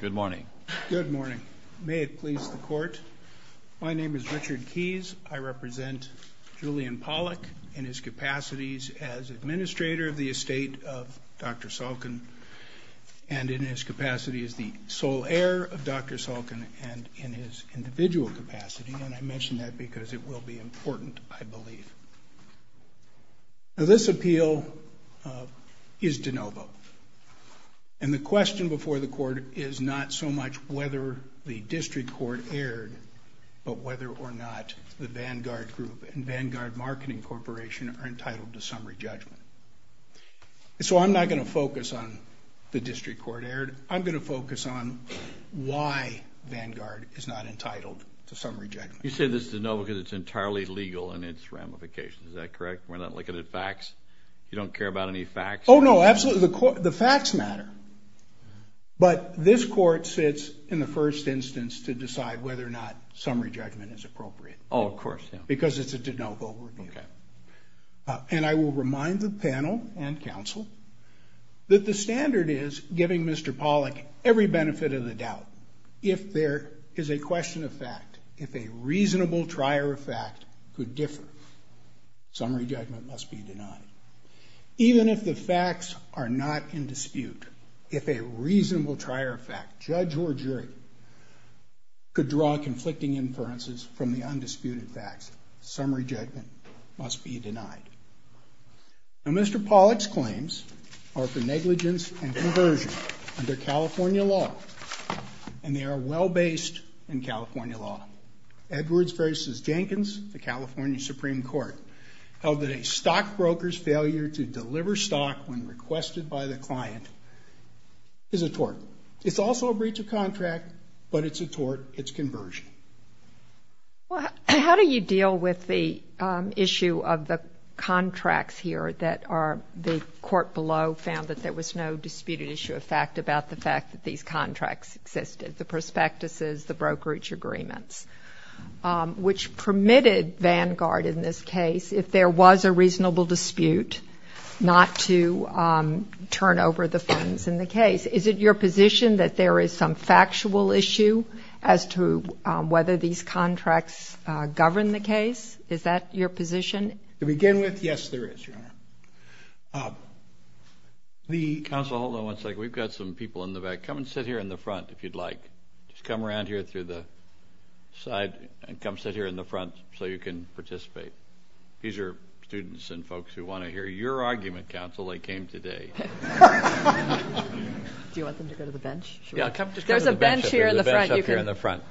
Good morning. Good morning. May it please the Court, my name is Richard Keys. I represent Julian Pollok in his capacities as administrator of the estate of Dr. Salkin, and in his capacity as the sole heir of Dr. Salkin, and in his individual capacity, and I mention that because it will be important, I believe. Now, this appeal is de novo, and the question before the Court is not so much whether the district court erred, but whether or not the Vanguard Group and Vanguard Marketing Corporation are entitled to summary judgment. So I'm not going to focus on the district court erred. I'm going to focus on why Vanguard is not entitled to summary judgment. You say this is de novo because it's entirely legal in its ramifications, is that correct? We're not looking at facts? You don't care about any facts? Oh, no, absolutely. The facts matter. But this Court sits in the first instance to decide whether or not summary judgment is appropriate. Oh, of course, yeah. Because it's a de novo review. Okay. And I will remind the panel and counsel that the standard is giving Mr. Pollok every benefit of the doubt. If there is a question of fact, if a reasonable trier of fact could differ, summary judgment must be denied. Even if the facts are not in dispute, if a reasonable trier of fact, judge or jury, could draw conflicting inferences from the undisputed facts, summary judgment must be denied. Now, Mr. Pollok's claims are for negligence and conversion under California law, and they are well-based in California law. Edwards v. Jenkins, the California Supreme Court, held that a stockbroker's failure to deliver stock when requested by the client is a tort. It's also a breach of contract, but it's a tort. It's conversion. Well, how do you deal with the issue of the contracts here that are, the court below found that there was no disputed issue of fact about the fact that these contracts existed, the prospectuses, the brokerage agreements, which permitted Vanguard in this case, if there was a reasonable dispute, not to turn over the funds in the case. Is it your position that there is some factual issue as to whether these contracts govern the case? Is that your position? To begin with, yes, there is, Your Honor. Counsel, hold on one second. We've got some people in the back. Come and sit here in the front if you'd like. Just come around here through the side and come sit here in the front so you can participate. These are students and folks who want to hear your argument, counsel. They came today. Do you want them to go to the bench? There's a bench here in the front. There's a bench up here in the front.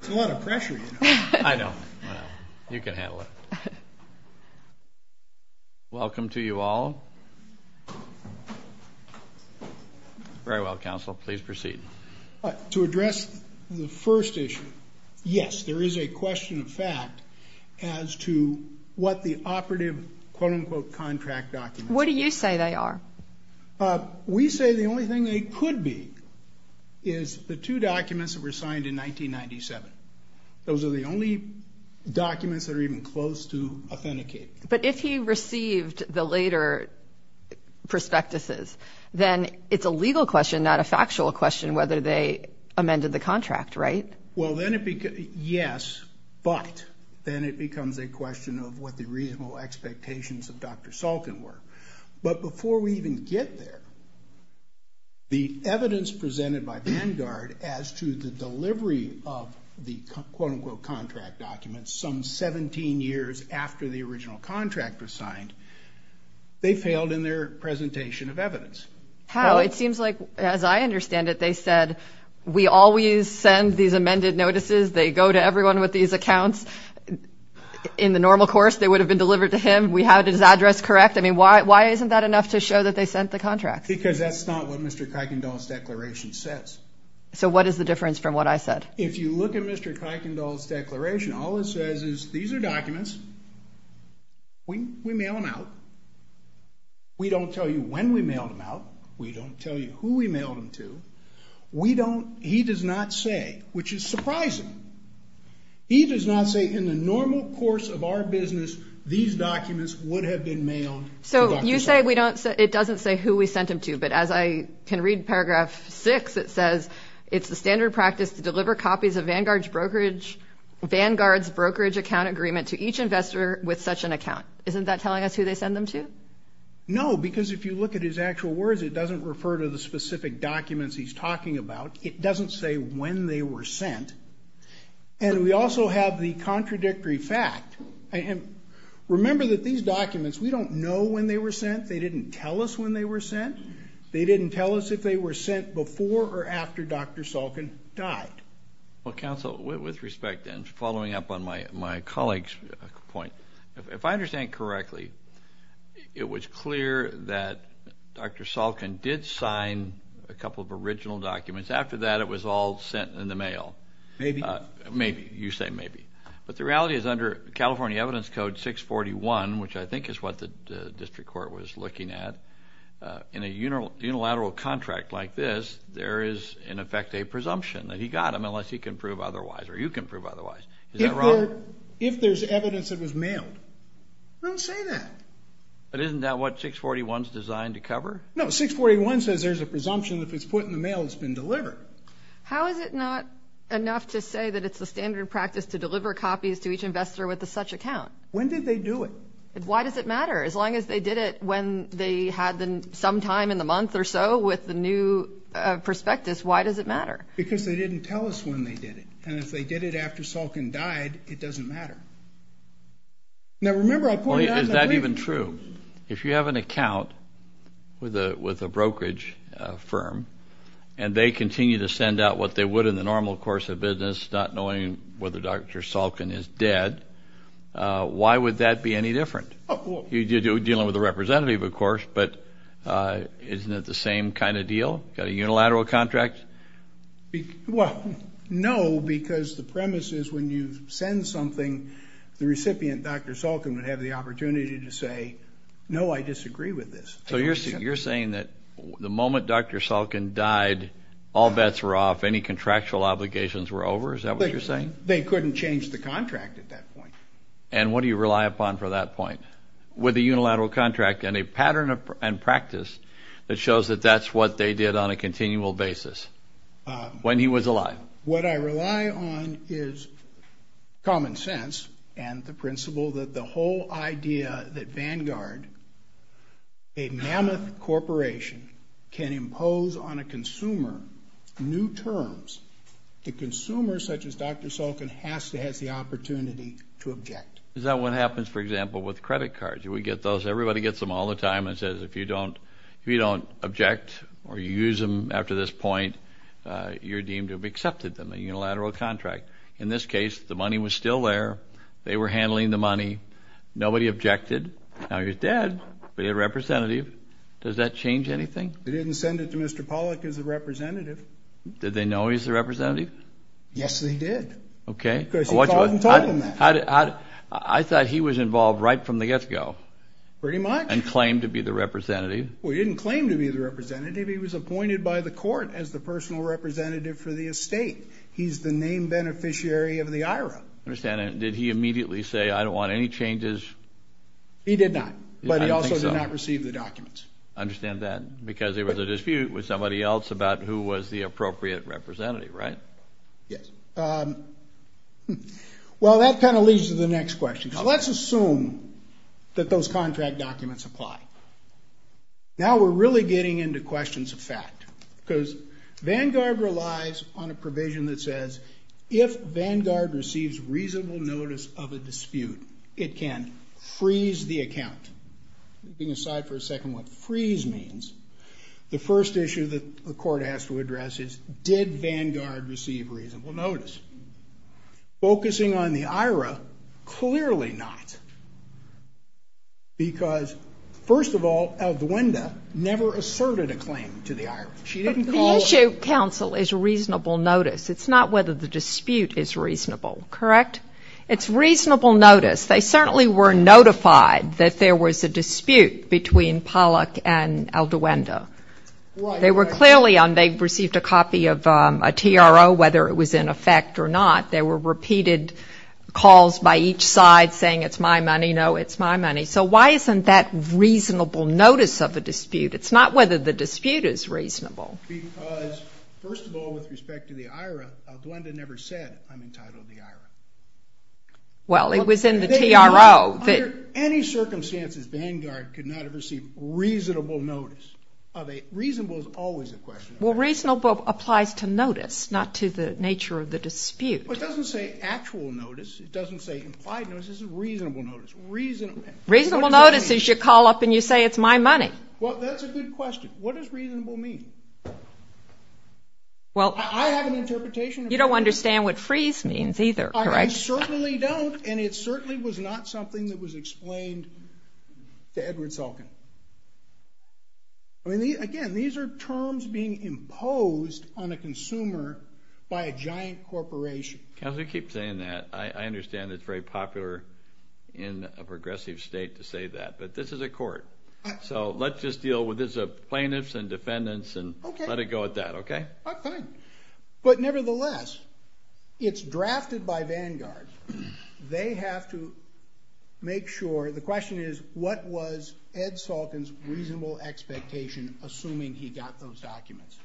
It's a lot of pressure, you know. I know. You can handle it. Welcome to you all. Very well, counsel, please proceed. To address the first issue, yes, there is a question of fact as to what the operative, quote-unquote, contract documents are. What do you say they are? We say the only thing they could be is the two documents that were signed in 1997. Those are the only documents that are even close to authenticating. But if he received the later prospectuses, then it's a legal question, not a factual question, whether they amended the contract, right? Well, yes, but then it becomes a question of what the reasonable expectations of Dr. Salkin were. But before we even get there, the evidence presented by Vanguard as to the delivery of the, quote-unquote, some 17 years after the original contract was signed, they failed in their presentation of evidence. How? It seems like, as I understand it, they said, we always send these amended notices. They go to everyone with these accounts. In the normal course, they would have been delivered to him. We had his address correct. I mean, why isn't that enough to show that they sent the contract? Because that's not what Mr. Kuykendall's declaration says. So what is the difference from what I said? If you look at Mr. Kuykendall's declaration, all it says is these are documents. We mail them out. We don't tell you when we mailed them out. We don't tell you who we mailed them to. We don't, he does not say, which is surprising, he does not say in the normal course of our business, these documents would have been mailed to Dr. Salkin. So you say we don't, it doesn't say who we sent them to. But as I can read Paragraph 6, it says, it's the standard practice to deliver copies of Vanguard's brokerage account agreement to each investor with such an account. Isn't that telling us who they send them to? No, because if you look at his actual words, it doesn't refer to the specific documents he's talking about. It doesn't say when they were sent. And we also have the contradictory fact. Remember that these documents, we don't know when they were sent. They didn't tell us when they were sent. They didn't tell us if they were sent before or after Dr. Salkin died. Well, counsel, with respect and following up on my colleague's point, if I understand correctly, it was clear that Dr. Salkin did sign a couple of original documents. After that, it was all sent in the mail. Maybe. Maybe. You say maybe. But the reality is under California Evidence Code 641, which I think is what the district court was looking at, in a unilateral contract like this, there is, in effect, a presumption that he got them, unless he can prove otherwise or you can prove otherwise. If there's evidence that was mailed, don't say that. But isn't that what 641 is designed to cover? No, 641 says there's a presumption that if it's put in the mail, it's been delivered. How is it not enough to say that it's the standard practice to deliver copies to each investor with such an account? When did they do it? Why does it matter? As long as they did it when they had some time in the month or so with the new prospectus, why does it matter? Because they didn't tell us when they did it. And if they did it after Salkin died, it doesn't matter. Now, remember, I'll point it out in the briefing. Is that even true? If you have an account with a brokerage firm and they continue to send out what they would in the normal course of business, not knowing whether Dr. Salkin is dead, why would that be any different? You're dealing with a representative, of course, but isn't it the same kind of deal? Got a unilateral contract? Well, no, because the premise is when you send something, the recipient, Dr. Salkin, would have the opportunity to say, no, I disagree with this. So you're saying that the moment Dr. Salkin died, all bets were off, any contractual obligations were over? Is that what you're saying? They couldn't change the contract at that point. And what do you rely upon for that point? With a unilateral contract and a pattern and practice that shows that that's what they did on a continual basis when he was alive. What I rely on is common sense and the principle that the whole idea that Vanguard, a mammoth corporation, can impose on a consumer new terms that consumers such as Dr. Salkin has to have the opportunity to object. Is that what happens, for example, with credit cards? Everybody gets them all the time and says if you don't object or you use them after this point, you're deemed to have accepted them, a unilateral contract. In this case, the money was still there. They were handling the money. Nobody objected. Now he was dead, but he had a representative. Does that change anything? They didn't send it to Mr. Pollack as a representative. Did they know he was the representative? Yes, they did. Okay. Because he thought and told them that. I thought he was involved right from the get-go. Pretty much. And claimed to be the representative. Well, he didn't claim to be the representative. He was appointed by the court as the personal representative for the estate. He's the name beneficiary of the IRA. I understand. And did he immediately say, I don't want any changes? He did not. But he also did not receive the documents. I understand that. Because there was a dispute with somebody else about who was the appropriate representative, right? Yes. Well, that kind of leads to the next question. So let's assume that those contract documents apply. Now we're really getting into questions of fact. Because Vanguard relies on a provision that says, if Vanguard receives reasonable notice of a dispute, it can freeze the account. Moving aside for a second what freeze means. The first issue that the court has to address is, did Vanguard receive reasonable notice? Focusing on the IRA, clearly not. Because, first of all, Alduenda never asserted a claim to the IRA. The issue, counsel, is reasonable notice. It's not whether the dispute is reasonable. Correct? It's reasonable notice. They certainly were notified that there was a dispute between Pollack and Alduenda. They were clearly on they received a copy of a TRO, whether it was in effect or not. There were repeated calls by each side saying, it's my money, no, it's my money. So why isn't that reasonable notice of a dispute? It's not whether the dispute is reasonable. Because, first of all, with respect to the IRA, Alduenda never said, I'm entitled to the IRA. Well, it was in the TRO. Under any circumstances, Vanguard could not have received reasonable notice. Reasonable is always a question. Well, reasonable applies to notice, not to the nature of the dispute. Well, it doesn't say actual notice. It doesn't say implied notice. It says reasonable notice. Reasonable notice is you call up and you say, it's my money. Well, that's a good question. What does reasonable mean? Well, I have an interpretation. You don't understand what freeze means either, correct? I certainly don't, and it certainly was not something that was explained to Edward Sulkin. I mean, again, these are terms being imposed on a consumer by a giant corporation. Counselor, you keep saying that. I understand it's very popular in a progressive state to say that, but this is a court. So let's just deal with this as plaintiffs and defendants and let it go at that, okay? Okay. But nevertheless, it's drafted by Vanguard. They have to make sure. The question is, what was Ed Sulkin's reasonable expectation assuming he got those documents?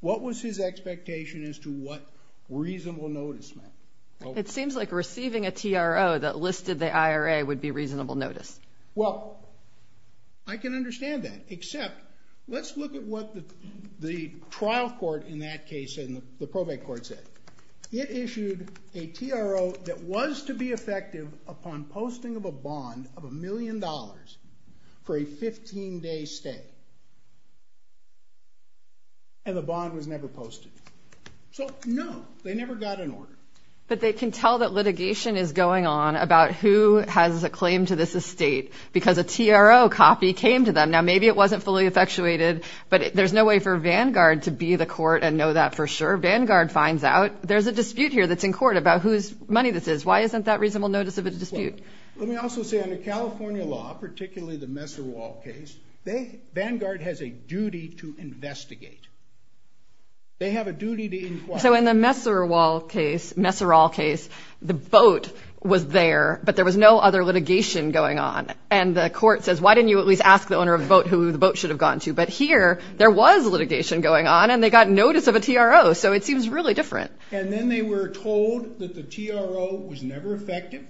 What was his expectation as to what reasonable notice meant? It seems like receiving a TRO that listed the IRA would be reasonable notice. Well, I can understand that, except let's look at what the trial court in that case said and the probate court said. It issued a TRO that was to be effective upon posting of a bond of a million dollars for a 15-day stay, and the bond was never posted. So, no, they never got an order. But they can tell that litigation is going on about who has a claim to this estate because a TRO copy came to them. Now, maybe it wasn't fully effectuated, but there's no way for Vanguard to be the court and know that for sure. Vanguard finds out there's a dispute here that's in court about whose money this is. Why isn't that reasonable notice of a dispute? Let me also say, under California law, particularly the Messerall case, Vanguard has a duty to investigate. They have a duty to inquire. So in the Messerall case, the boat was there, but there was no other litigation going on. And the court says, why didn't you at least ask the owner of the boat who the boat should have gone to? But here, there was litigation going on, and they got notice of a TRO. So it seems really different. And then they were told that the TRO was never effective,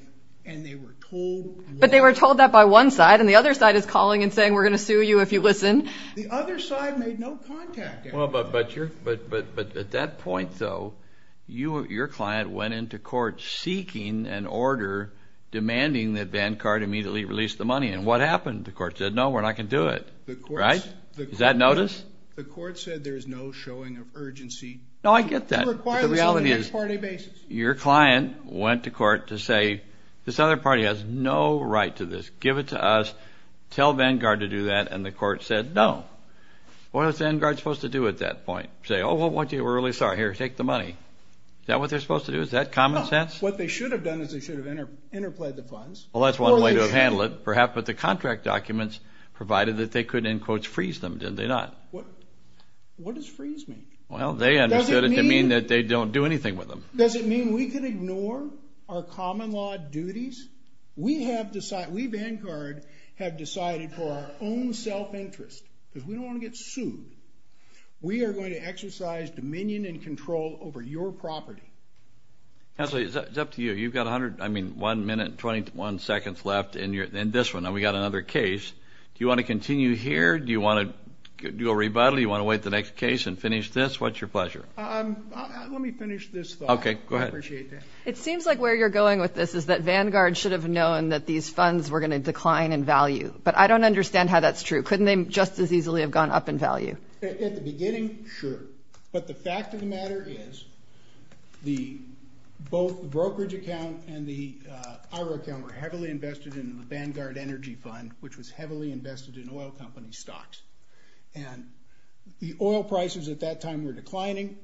and they were told what? But they were told that by one side, and the other side is calling and saying, we're going to sue you if you listen. The other side made no contact at all. But at that point, though, your client went into court seeking an order demanding that Vanguard immediately release the money. And what happened? The court said, no, we're not going to do it. Right? Is that notice? The court said there is no showing of urgency. No, I get that. But the reality is, your client went to court to say, this other party has no right to this. Give it to us. Tell Vanguard to do that. And the court said, no. What was Vanguard supposed to do at that point? Say, oh, well, we're really sorry. Here, take the money. Is that what they're supposed to do? Is that common sense? No. What they should have done is they should have interplayed the funds. Well, that's one way to handle it, perhaps. But the contract documents provided that they could, in quotes, freeze them. Did they not? What does freeze mean? Well, they understood it to mean that they don't do anything with them. Does it mean we can ignore our common law duties? We Vanguard have decided for our own self-interest, because we don't want to get sued, we are going to exercise dominion and control over your property. It's up to you. You've got one minute and 21 seconds left in this one. Now we've got another case. Do you want to continue here? Do you want to do a rebuttal? Do you want to wait the next case and finish this? What's your pleasure? Let me finish this thought. Okay, go ahead. I appreciate that. It seems like where you're going with this is that Vanguard should have known that these funds were going to decline in value. But I don't understand how that's true. Couldn't they just as easily have gone up in value? At the beginning, sure. But the fact of the matter is both the brokerage account and the IRO account were heavily invested in the Vanguard Energy Fund, which was heavily invested in oil company stocks. And the oil prices at that time were declining.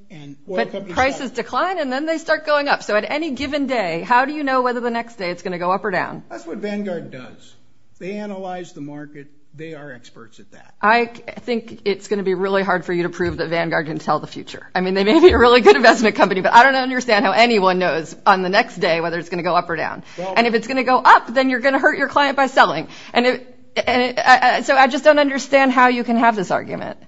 But prices decline, and then they start going up. So at any given day, how do you know whether the next day it's going to go up or down? That's what Vanguard does. They analyze the market. They are experts at that. I think it's going to be really hard for you to prove that Vanguard can tell the future. I mean, they may be a really good investment company, but I don't understand how anyone knows on the next day whether it's going to go up or down. And if it's going to go up, then you're going to hurt your client by selling. So I just don't understand how you can have this argument.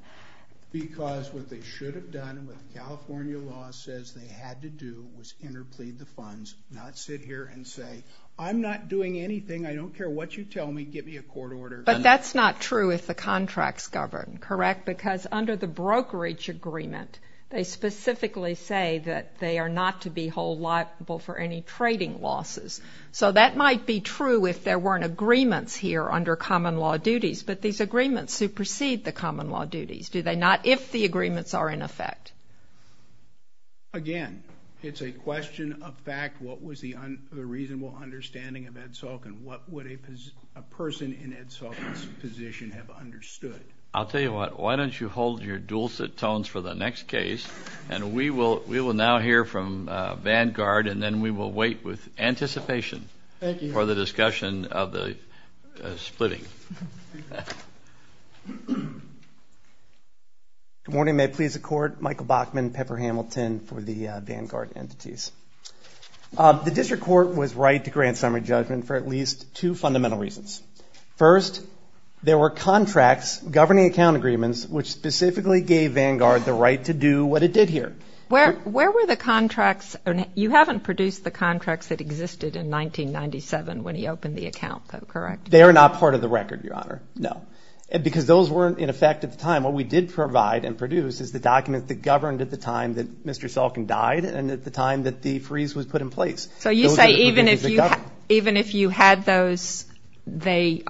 Because what they should have done and what the California law says they had to do was interplead the funds, not sit here and say, I'm not doing anything. I don't care what you tell me. Give me a court order. But that's not true if the contracts govern, correct? Because under the brokerage agreement, they specifically say that they are not to be hold liable for any trading losses. So that might be true if there weren't agreements here under common law duties, but these agreements supersede the common law duties, do they not, if the agreements are in effect? Again, it's a question of fact. What was the reasonable understanding of Ed Salkin? What would a person in Ed Salkin's position have understood? I'll tell you what. Why don't you hold your dual tones for the next case, and we will now hear from Vanguard, and then we will wait with anticipation for the discussion of the splitting. Good morning. May it please the Court. Michael Bachman, Pepper Hamilton for the Vanguard entities. The district court was right to grant summary judgment for at least two fundamental reasons. First, there were contracts governing account agreements which specifically gave Vanguard the right to do what it did here. Where were the contracts? You haven't produced the contracts that existed in 1997 when he opened the account, though, correct? They are not part of the record, Your Honor, no, because those weren't in effect at the time. What we did provide and produce is the documents that governed at the time that Mr. Salkin died and at the time that the freeze was put in place. So you say even if you had those, they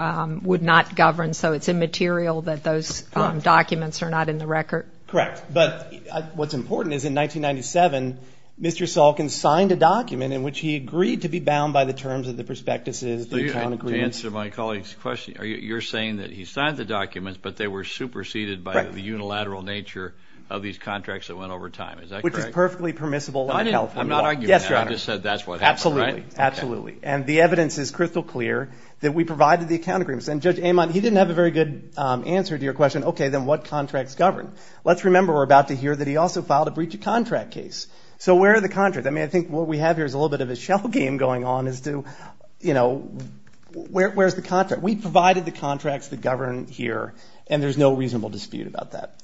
would not govern, so it's immaterial that those documents are not in the record? Correct. But what's important is in 1997, Mr. Salkin signed a document in which he agreed to be bound by the terms of the prospectuses. To answer my colleague's question, you're saying that he signed the documents, but they were superseded by the unilateral nature of these contracts that went over time, is that correct? Which is perfectly permissible in California law. I'm not arguing that. Yes, Your Honor. I just said that's what happened, right? Absolutely, absolutely. And the evidence is crystal clear that we provided the account agreements. And Judge Amon, he didn't have a very good answer to your question, okay, then what contracts govern? Let's remember we're about to hear that he also filed a breach of contract case. So where are the contracts? I mean, I think what we have here is a little bit of a shell game going on as to, you know, where's the contract? We provided the contracts that govern here, and there's no reasonable dispute about that.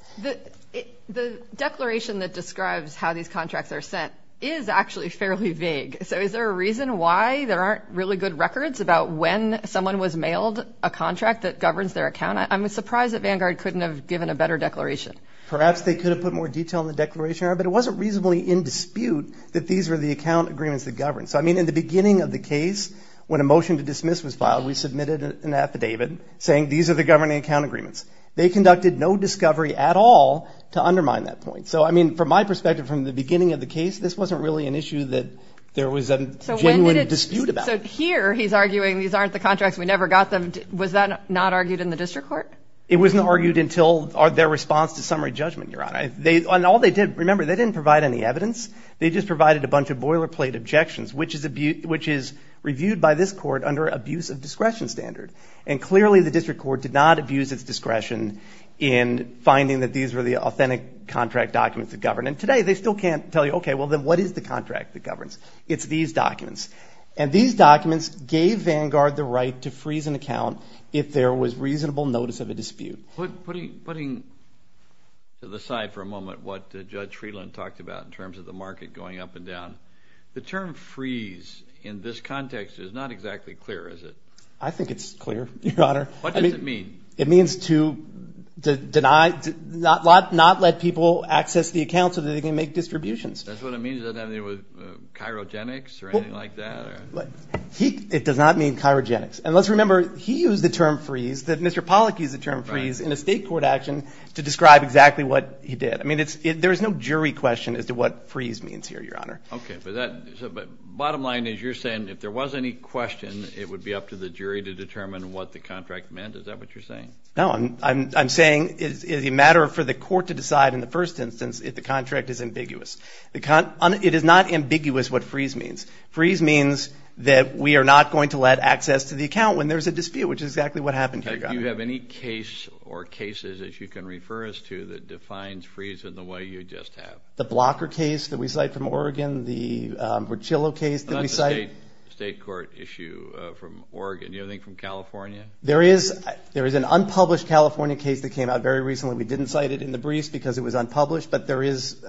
The declaration that describes how these contracts are sent is actually fairly vague. So is there a reason why there aren't really good records about when someone was mailed a contract that governs their account? I'm surprised that Vanguard couldn't have given a better declaration. Perhaps they could have put more detail in the declaration, but it wasn't reasonably in dispute that these were the account agreements that govern. So, I mean, in the beginning of the case, when a motion to dismiss was filed, we submitted an affidavit saying these are the governing account agreements. They conducted no discovery at all to undermine that point. So, I mean, from my perspective, from the beginning of the case, this wasn't really an issue that there was a genuine dispute about. So here he's arguing these aren't the contracts, we never got them. Was that not argued in the district court? It wasn't argued until their response to summary judgment, Your Honor. And all they did, remember, they didn't provide any evidence. They just provided a bunch of boilerplate objections, which is reviewed by this court under abuse of discretion standard. And clearly the district court did not abuse its discretion in finding that these were the authentic contract documents that govern. And today they still can't tell you, okay, well, then what is the contract that governs? It's these documents. And these documents gave Vanguard the right to freeze an account if there was reasonable notice of a dispute. Putting to the side for a moment what Judge Friedland talked about in terms of the market going up and down, the term freeze in this context is not exactly clear, is it? I think it's clear, Your Honor. What does it mean? It means to deny, not let people access the account so that they can make distributions. That's what it means? It doesn't have anything to do with cryogenics or anything like that? It does not mean cryogenics. And let's remember, he used the term freeze, that Mr. Pollack used the term freeze, in a state court action to describe exactly what he did. I mean, there is no jury question as to what freeze means here, Your Honor. Okay. But bottom line is you're saying if there was any question, it would be up to the jury to determine what the contract meant? Is that what you're saying? No. I'm saying it's a matter for the court to decide in the first instance if the contract is ambiguous. It is not ambiguous what freeze means. Freeze means that we are not going to let access to the account when there's a dispute, which is exactly what happened here, Your Honor. Do you have any case or cases that you can refer us to that defines freeze in the way you just have? The blocker case that we cite from Oregon, the Burchillo case that we cite. The state court issue from Oregon. Do you have anything from California? There is an unpublished California case that came out very recently. We didn't cite it in the briefs because it was unpublished, but there is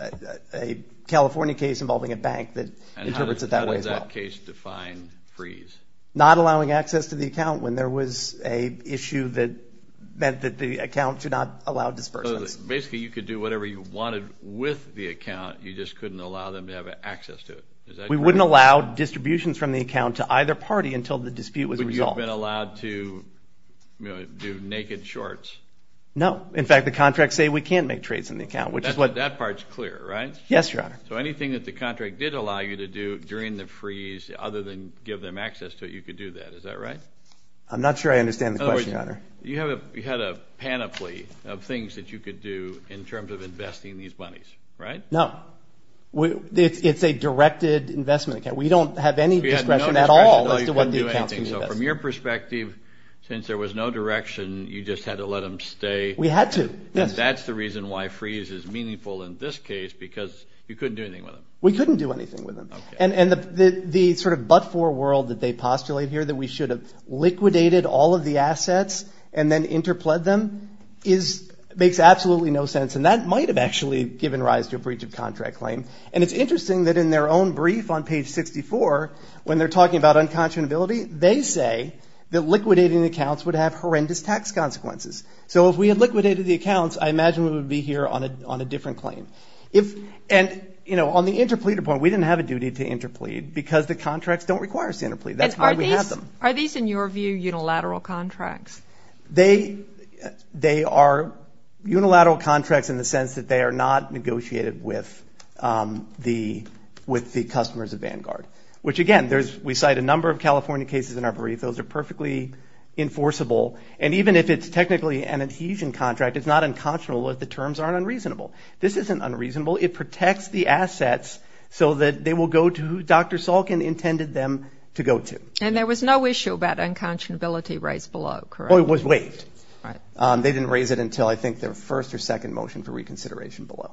a California case involving a bank that interprets it that way as well. And how does that case define freeze? Not allowing access to the account when there was an issue that meant that the account should not allow dispersion. Basically, you could do whatever you wanted with the account. You just couldn't allow them to have access to it. Is that correct? We wouldn't allow distributions from the account to either party until the dispute was resolved. Have you all been allowed to do naked shorts? No. In fact, the contracts say we can't make trades in the account. That part's clear, right? Yes, Your Honor. So anything that the contract did allow you to do during the freeze, other than give them access to it, you could do that. Is that right? I'm not sure I understand the question, Your Honor. You had a panoply of things that you could do in terms of investing these monies, right? No. We don't have any discretion at all as to what the accounts can invest in. So from your perspective, since there was no direction, you just had to let them stay? We had to, yes. And that's the reason why freeze is meaningful in this case, because you couldn't do anything with them. We couldn't do anything with them. And the sort of but-for world that they postulate here, that we should have liquidated all of the assets and then interpled them, makes absolutely no sense. And that might have actually given rise to a breach of contract claim. And it's interesting that in their own brief on page 64, when they're talking about unconscionability, they say that liquidating accounts would have horrendous tax consequences. So if we had liquidated the accounts, I imagine we would be here on a different claim. And, you know, on the interpleader point, we didn't have a duty to interplead because the contracts don't require us to interplead. That's why we have them. Are these, in your view, unilateral contracts? They are unilateral contracts in the sense that they are not negotiated with the customers of Vanguard, which, again, we cite a number of California cases in our brief. Those are perfectly enforceable. And even if it's technically an adhesion contract, it's not unconscionable if the terms aren't unreasonable. This isn't unreasonable. It protects the assets so that they will go to who Dr. Salkin intended them to go to. And there was no issue about unconscionability raised below, correct? Well, it was waived. They didn't raise it until I think their first or second motion for reconsideration below.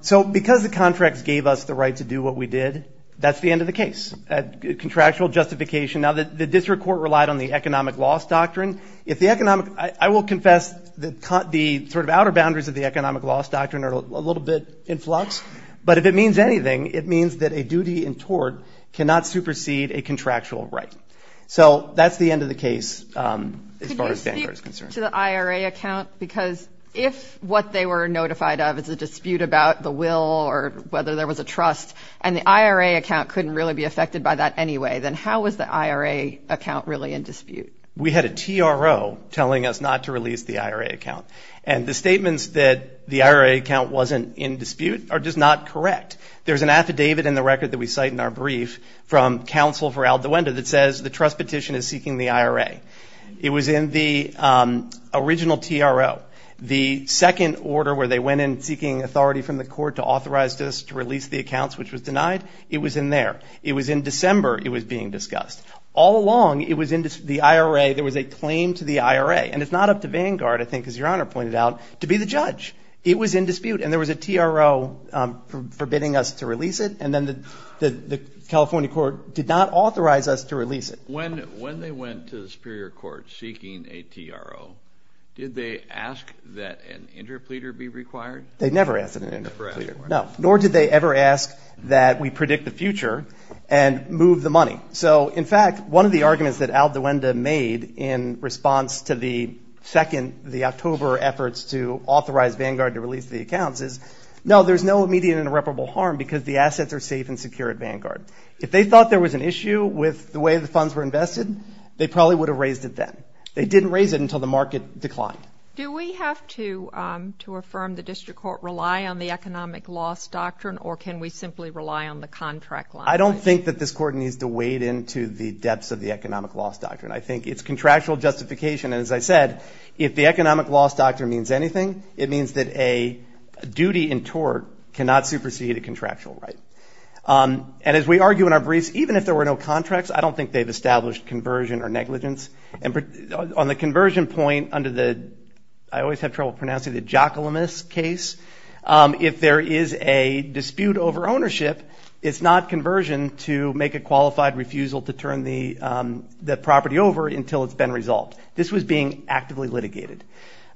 So because the contracts gave us the right to do what we did, that's the end of the case. A contractual justification. Now, the district court relied on the economic loss doctrine. I will confess the sort of outer boundaries of the economic loss doctrine are a little bit in flux. But if it means anything, it means that a duty in tort cannot supersede a contractual right. So that's the end of the case as far as Vanguard is concerned. To the IRA account, because if what they were notified of is a dispute about the will or whether there was a trust, and the IRA account couldn't really be affected by that anyway, then how was the IRA account really in dispute? We had a TRO telling us not to release the IRA account. And the statements that the IRA account wasn't in dispute are just not correct. There's an affidavit in the record that we cite in our brief from counsel for Aldewenda that says the trust petition is seeking the IRA. It was in the original TRO. The second order where they went in seeking authority from the court to authorize us to release the accounts, which was denied, it was in there. It was in December it was being discussed. All along, it was in the IRA. There was a claim to the IRA. And it's not up to Vanguard, I think, as Your Honor pointed out, to be the judge. It was in dispute. And there was a TRO forbidding us to release it. And then the California court did not authorize us to release it. When they went to the superior court seeking a TRO, did they ask that an interpleader be required? They never asked for an interpleader. No, nor did they ever ask that we predict the future and move the money. So, in fact, one of the arguments that Aldewenda made in response to the second, the October efforts to authorize Vanguard to release the accounts is, no, there's no immediate and irreparable harm because the assets are safe and secure at Vanguard. If they thought there was an issue with the way the funds were invested, they probably would have raised it then. They didn't raise it until the market declined. Do we have to affirm the district court rely on the economic loss doctrine, or can we simply rely on the contract line? I don't think that this court needs to wade into the depths of the economic loss doctrine. I think it's contractual justification. And as I said, if the economic loss doctrine means anything, it means that a duty in tort cannot supersede a contractual right. And as we argue in our briefs, even if there were no contracts, I don't think they've established conversion or negligence. And on the conversion point under the, I always have trouble pronouncing it, the Jocolomus case, if there is a dispute over ownership, it's not conversion to make a qualified refusal to turn the property over until it's been resolved. This was being actively litigated.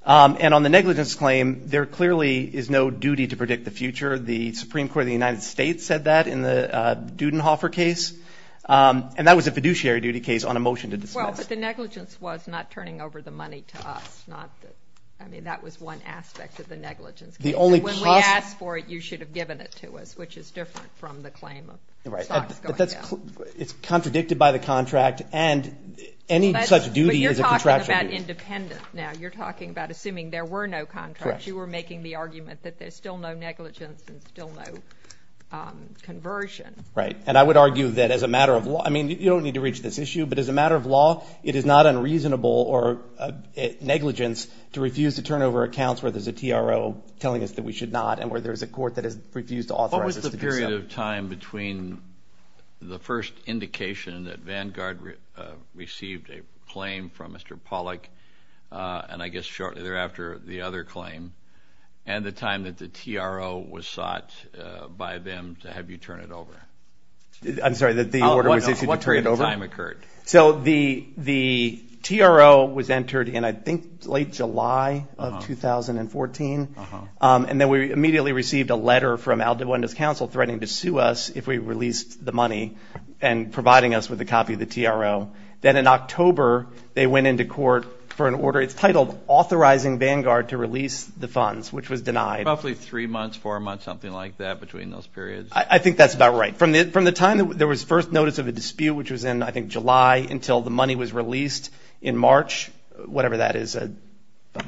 And on the negligence claim, there clearly is no duty to predict the future. The Supreme Court of the United States said that in the Dudenhofer case. And that was a fiduciary duty case on a motion to dismiss. Well, but the negligence was not turning over the money to us. I mean, that was one aspect of the negligence. And when we asked for it, you should have given it to us, which is different from the claim of stocks going down. It's contradicted by the contract. And any such duty is a contractual duty. But you're talking about independent now. You're talking about assuming there were no contracts. You were making the argument that there's still no negligence and still no conversion. Right. And I would argue that as a matter of law, I mean, you don't need to reach this issue, but as a matter of law, it is not unreasonable or negligence to refuse to turn over accounts where there's a TRO telling us that we should not and where there's a court that has refused to authorize us to do so. What was the period of time between the first indication that Vanguard received a claim from Mr. Pollack and I guess shortly thereafter the other claim and the time that the TRO was sought by them to have you turn it over? I'm sorry, that the order was issued to turn it over? What period of time occurred? So the TRO was entered in, I think, late July of 2014. And then we immediately received a letter from Aldabuenda's counsel threatening to sue us if we released the money and providing us with a copy of the TRO. Then in October, they went into court for an order. It's titled Authorizing Vanguard to Release the Funds, which was denied. Roughly three months, four months, something like that between those periods. I think that's about right. From the time there was first notice of a dispute, which was in, I think, July, until the money was released in March, whatever that is.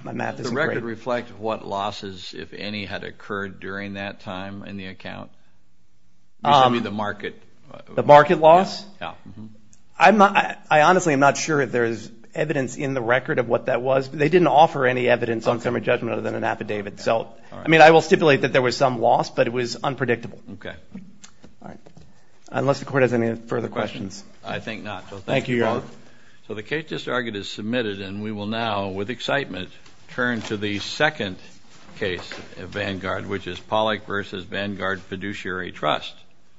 My math isn't great. Does the record reflect what losses, if any, had occurred during that time in the account? You said the market. The market loss? Yeah. I honestly am not sure if there is evidence in the record of what that was. They didn't offer any evidence on summary judgment other than an affidavit. So, I mean, I will stipulate that there was some loss, but it was unpredictable. Okay. All right. Unless the Court has any further questions. I think not. Thank you, Your Honor. So the case just argued is submitted, and we will now, with excitement, turn to the second case of Vanguard, which is Pollack v. Vanguard Fiduciary Trust.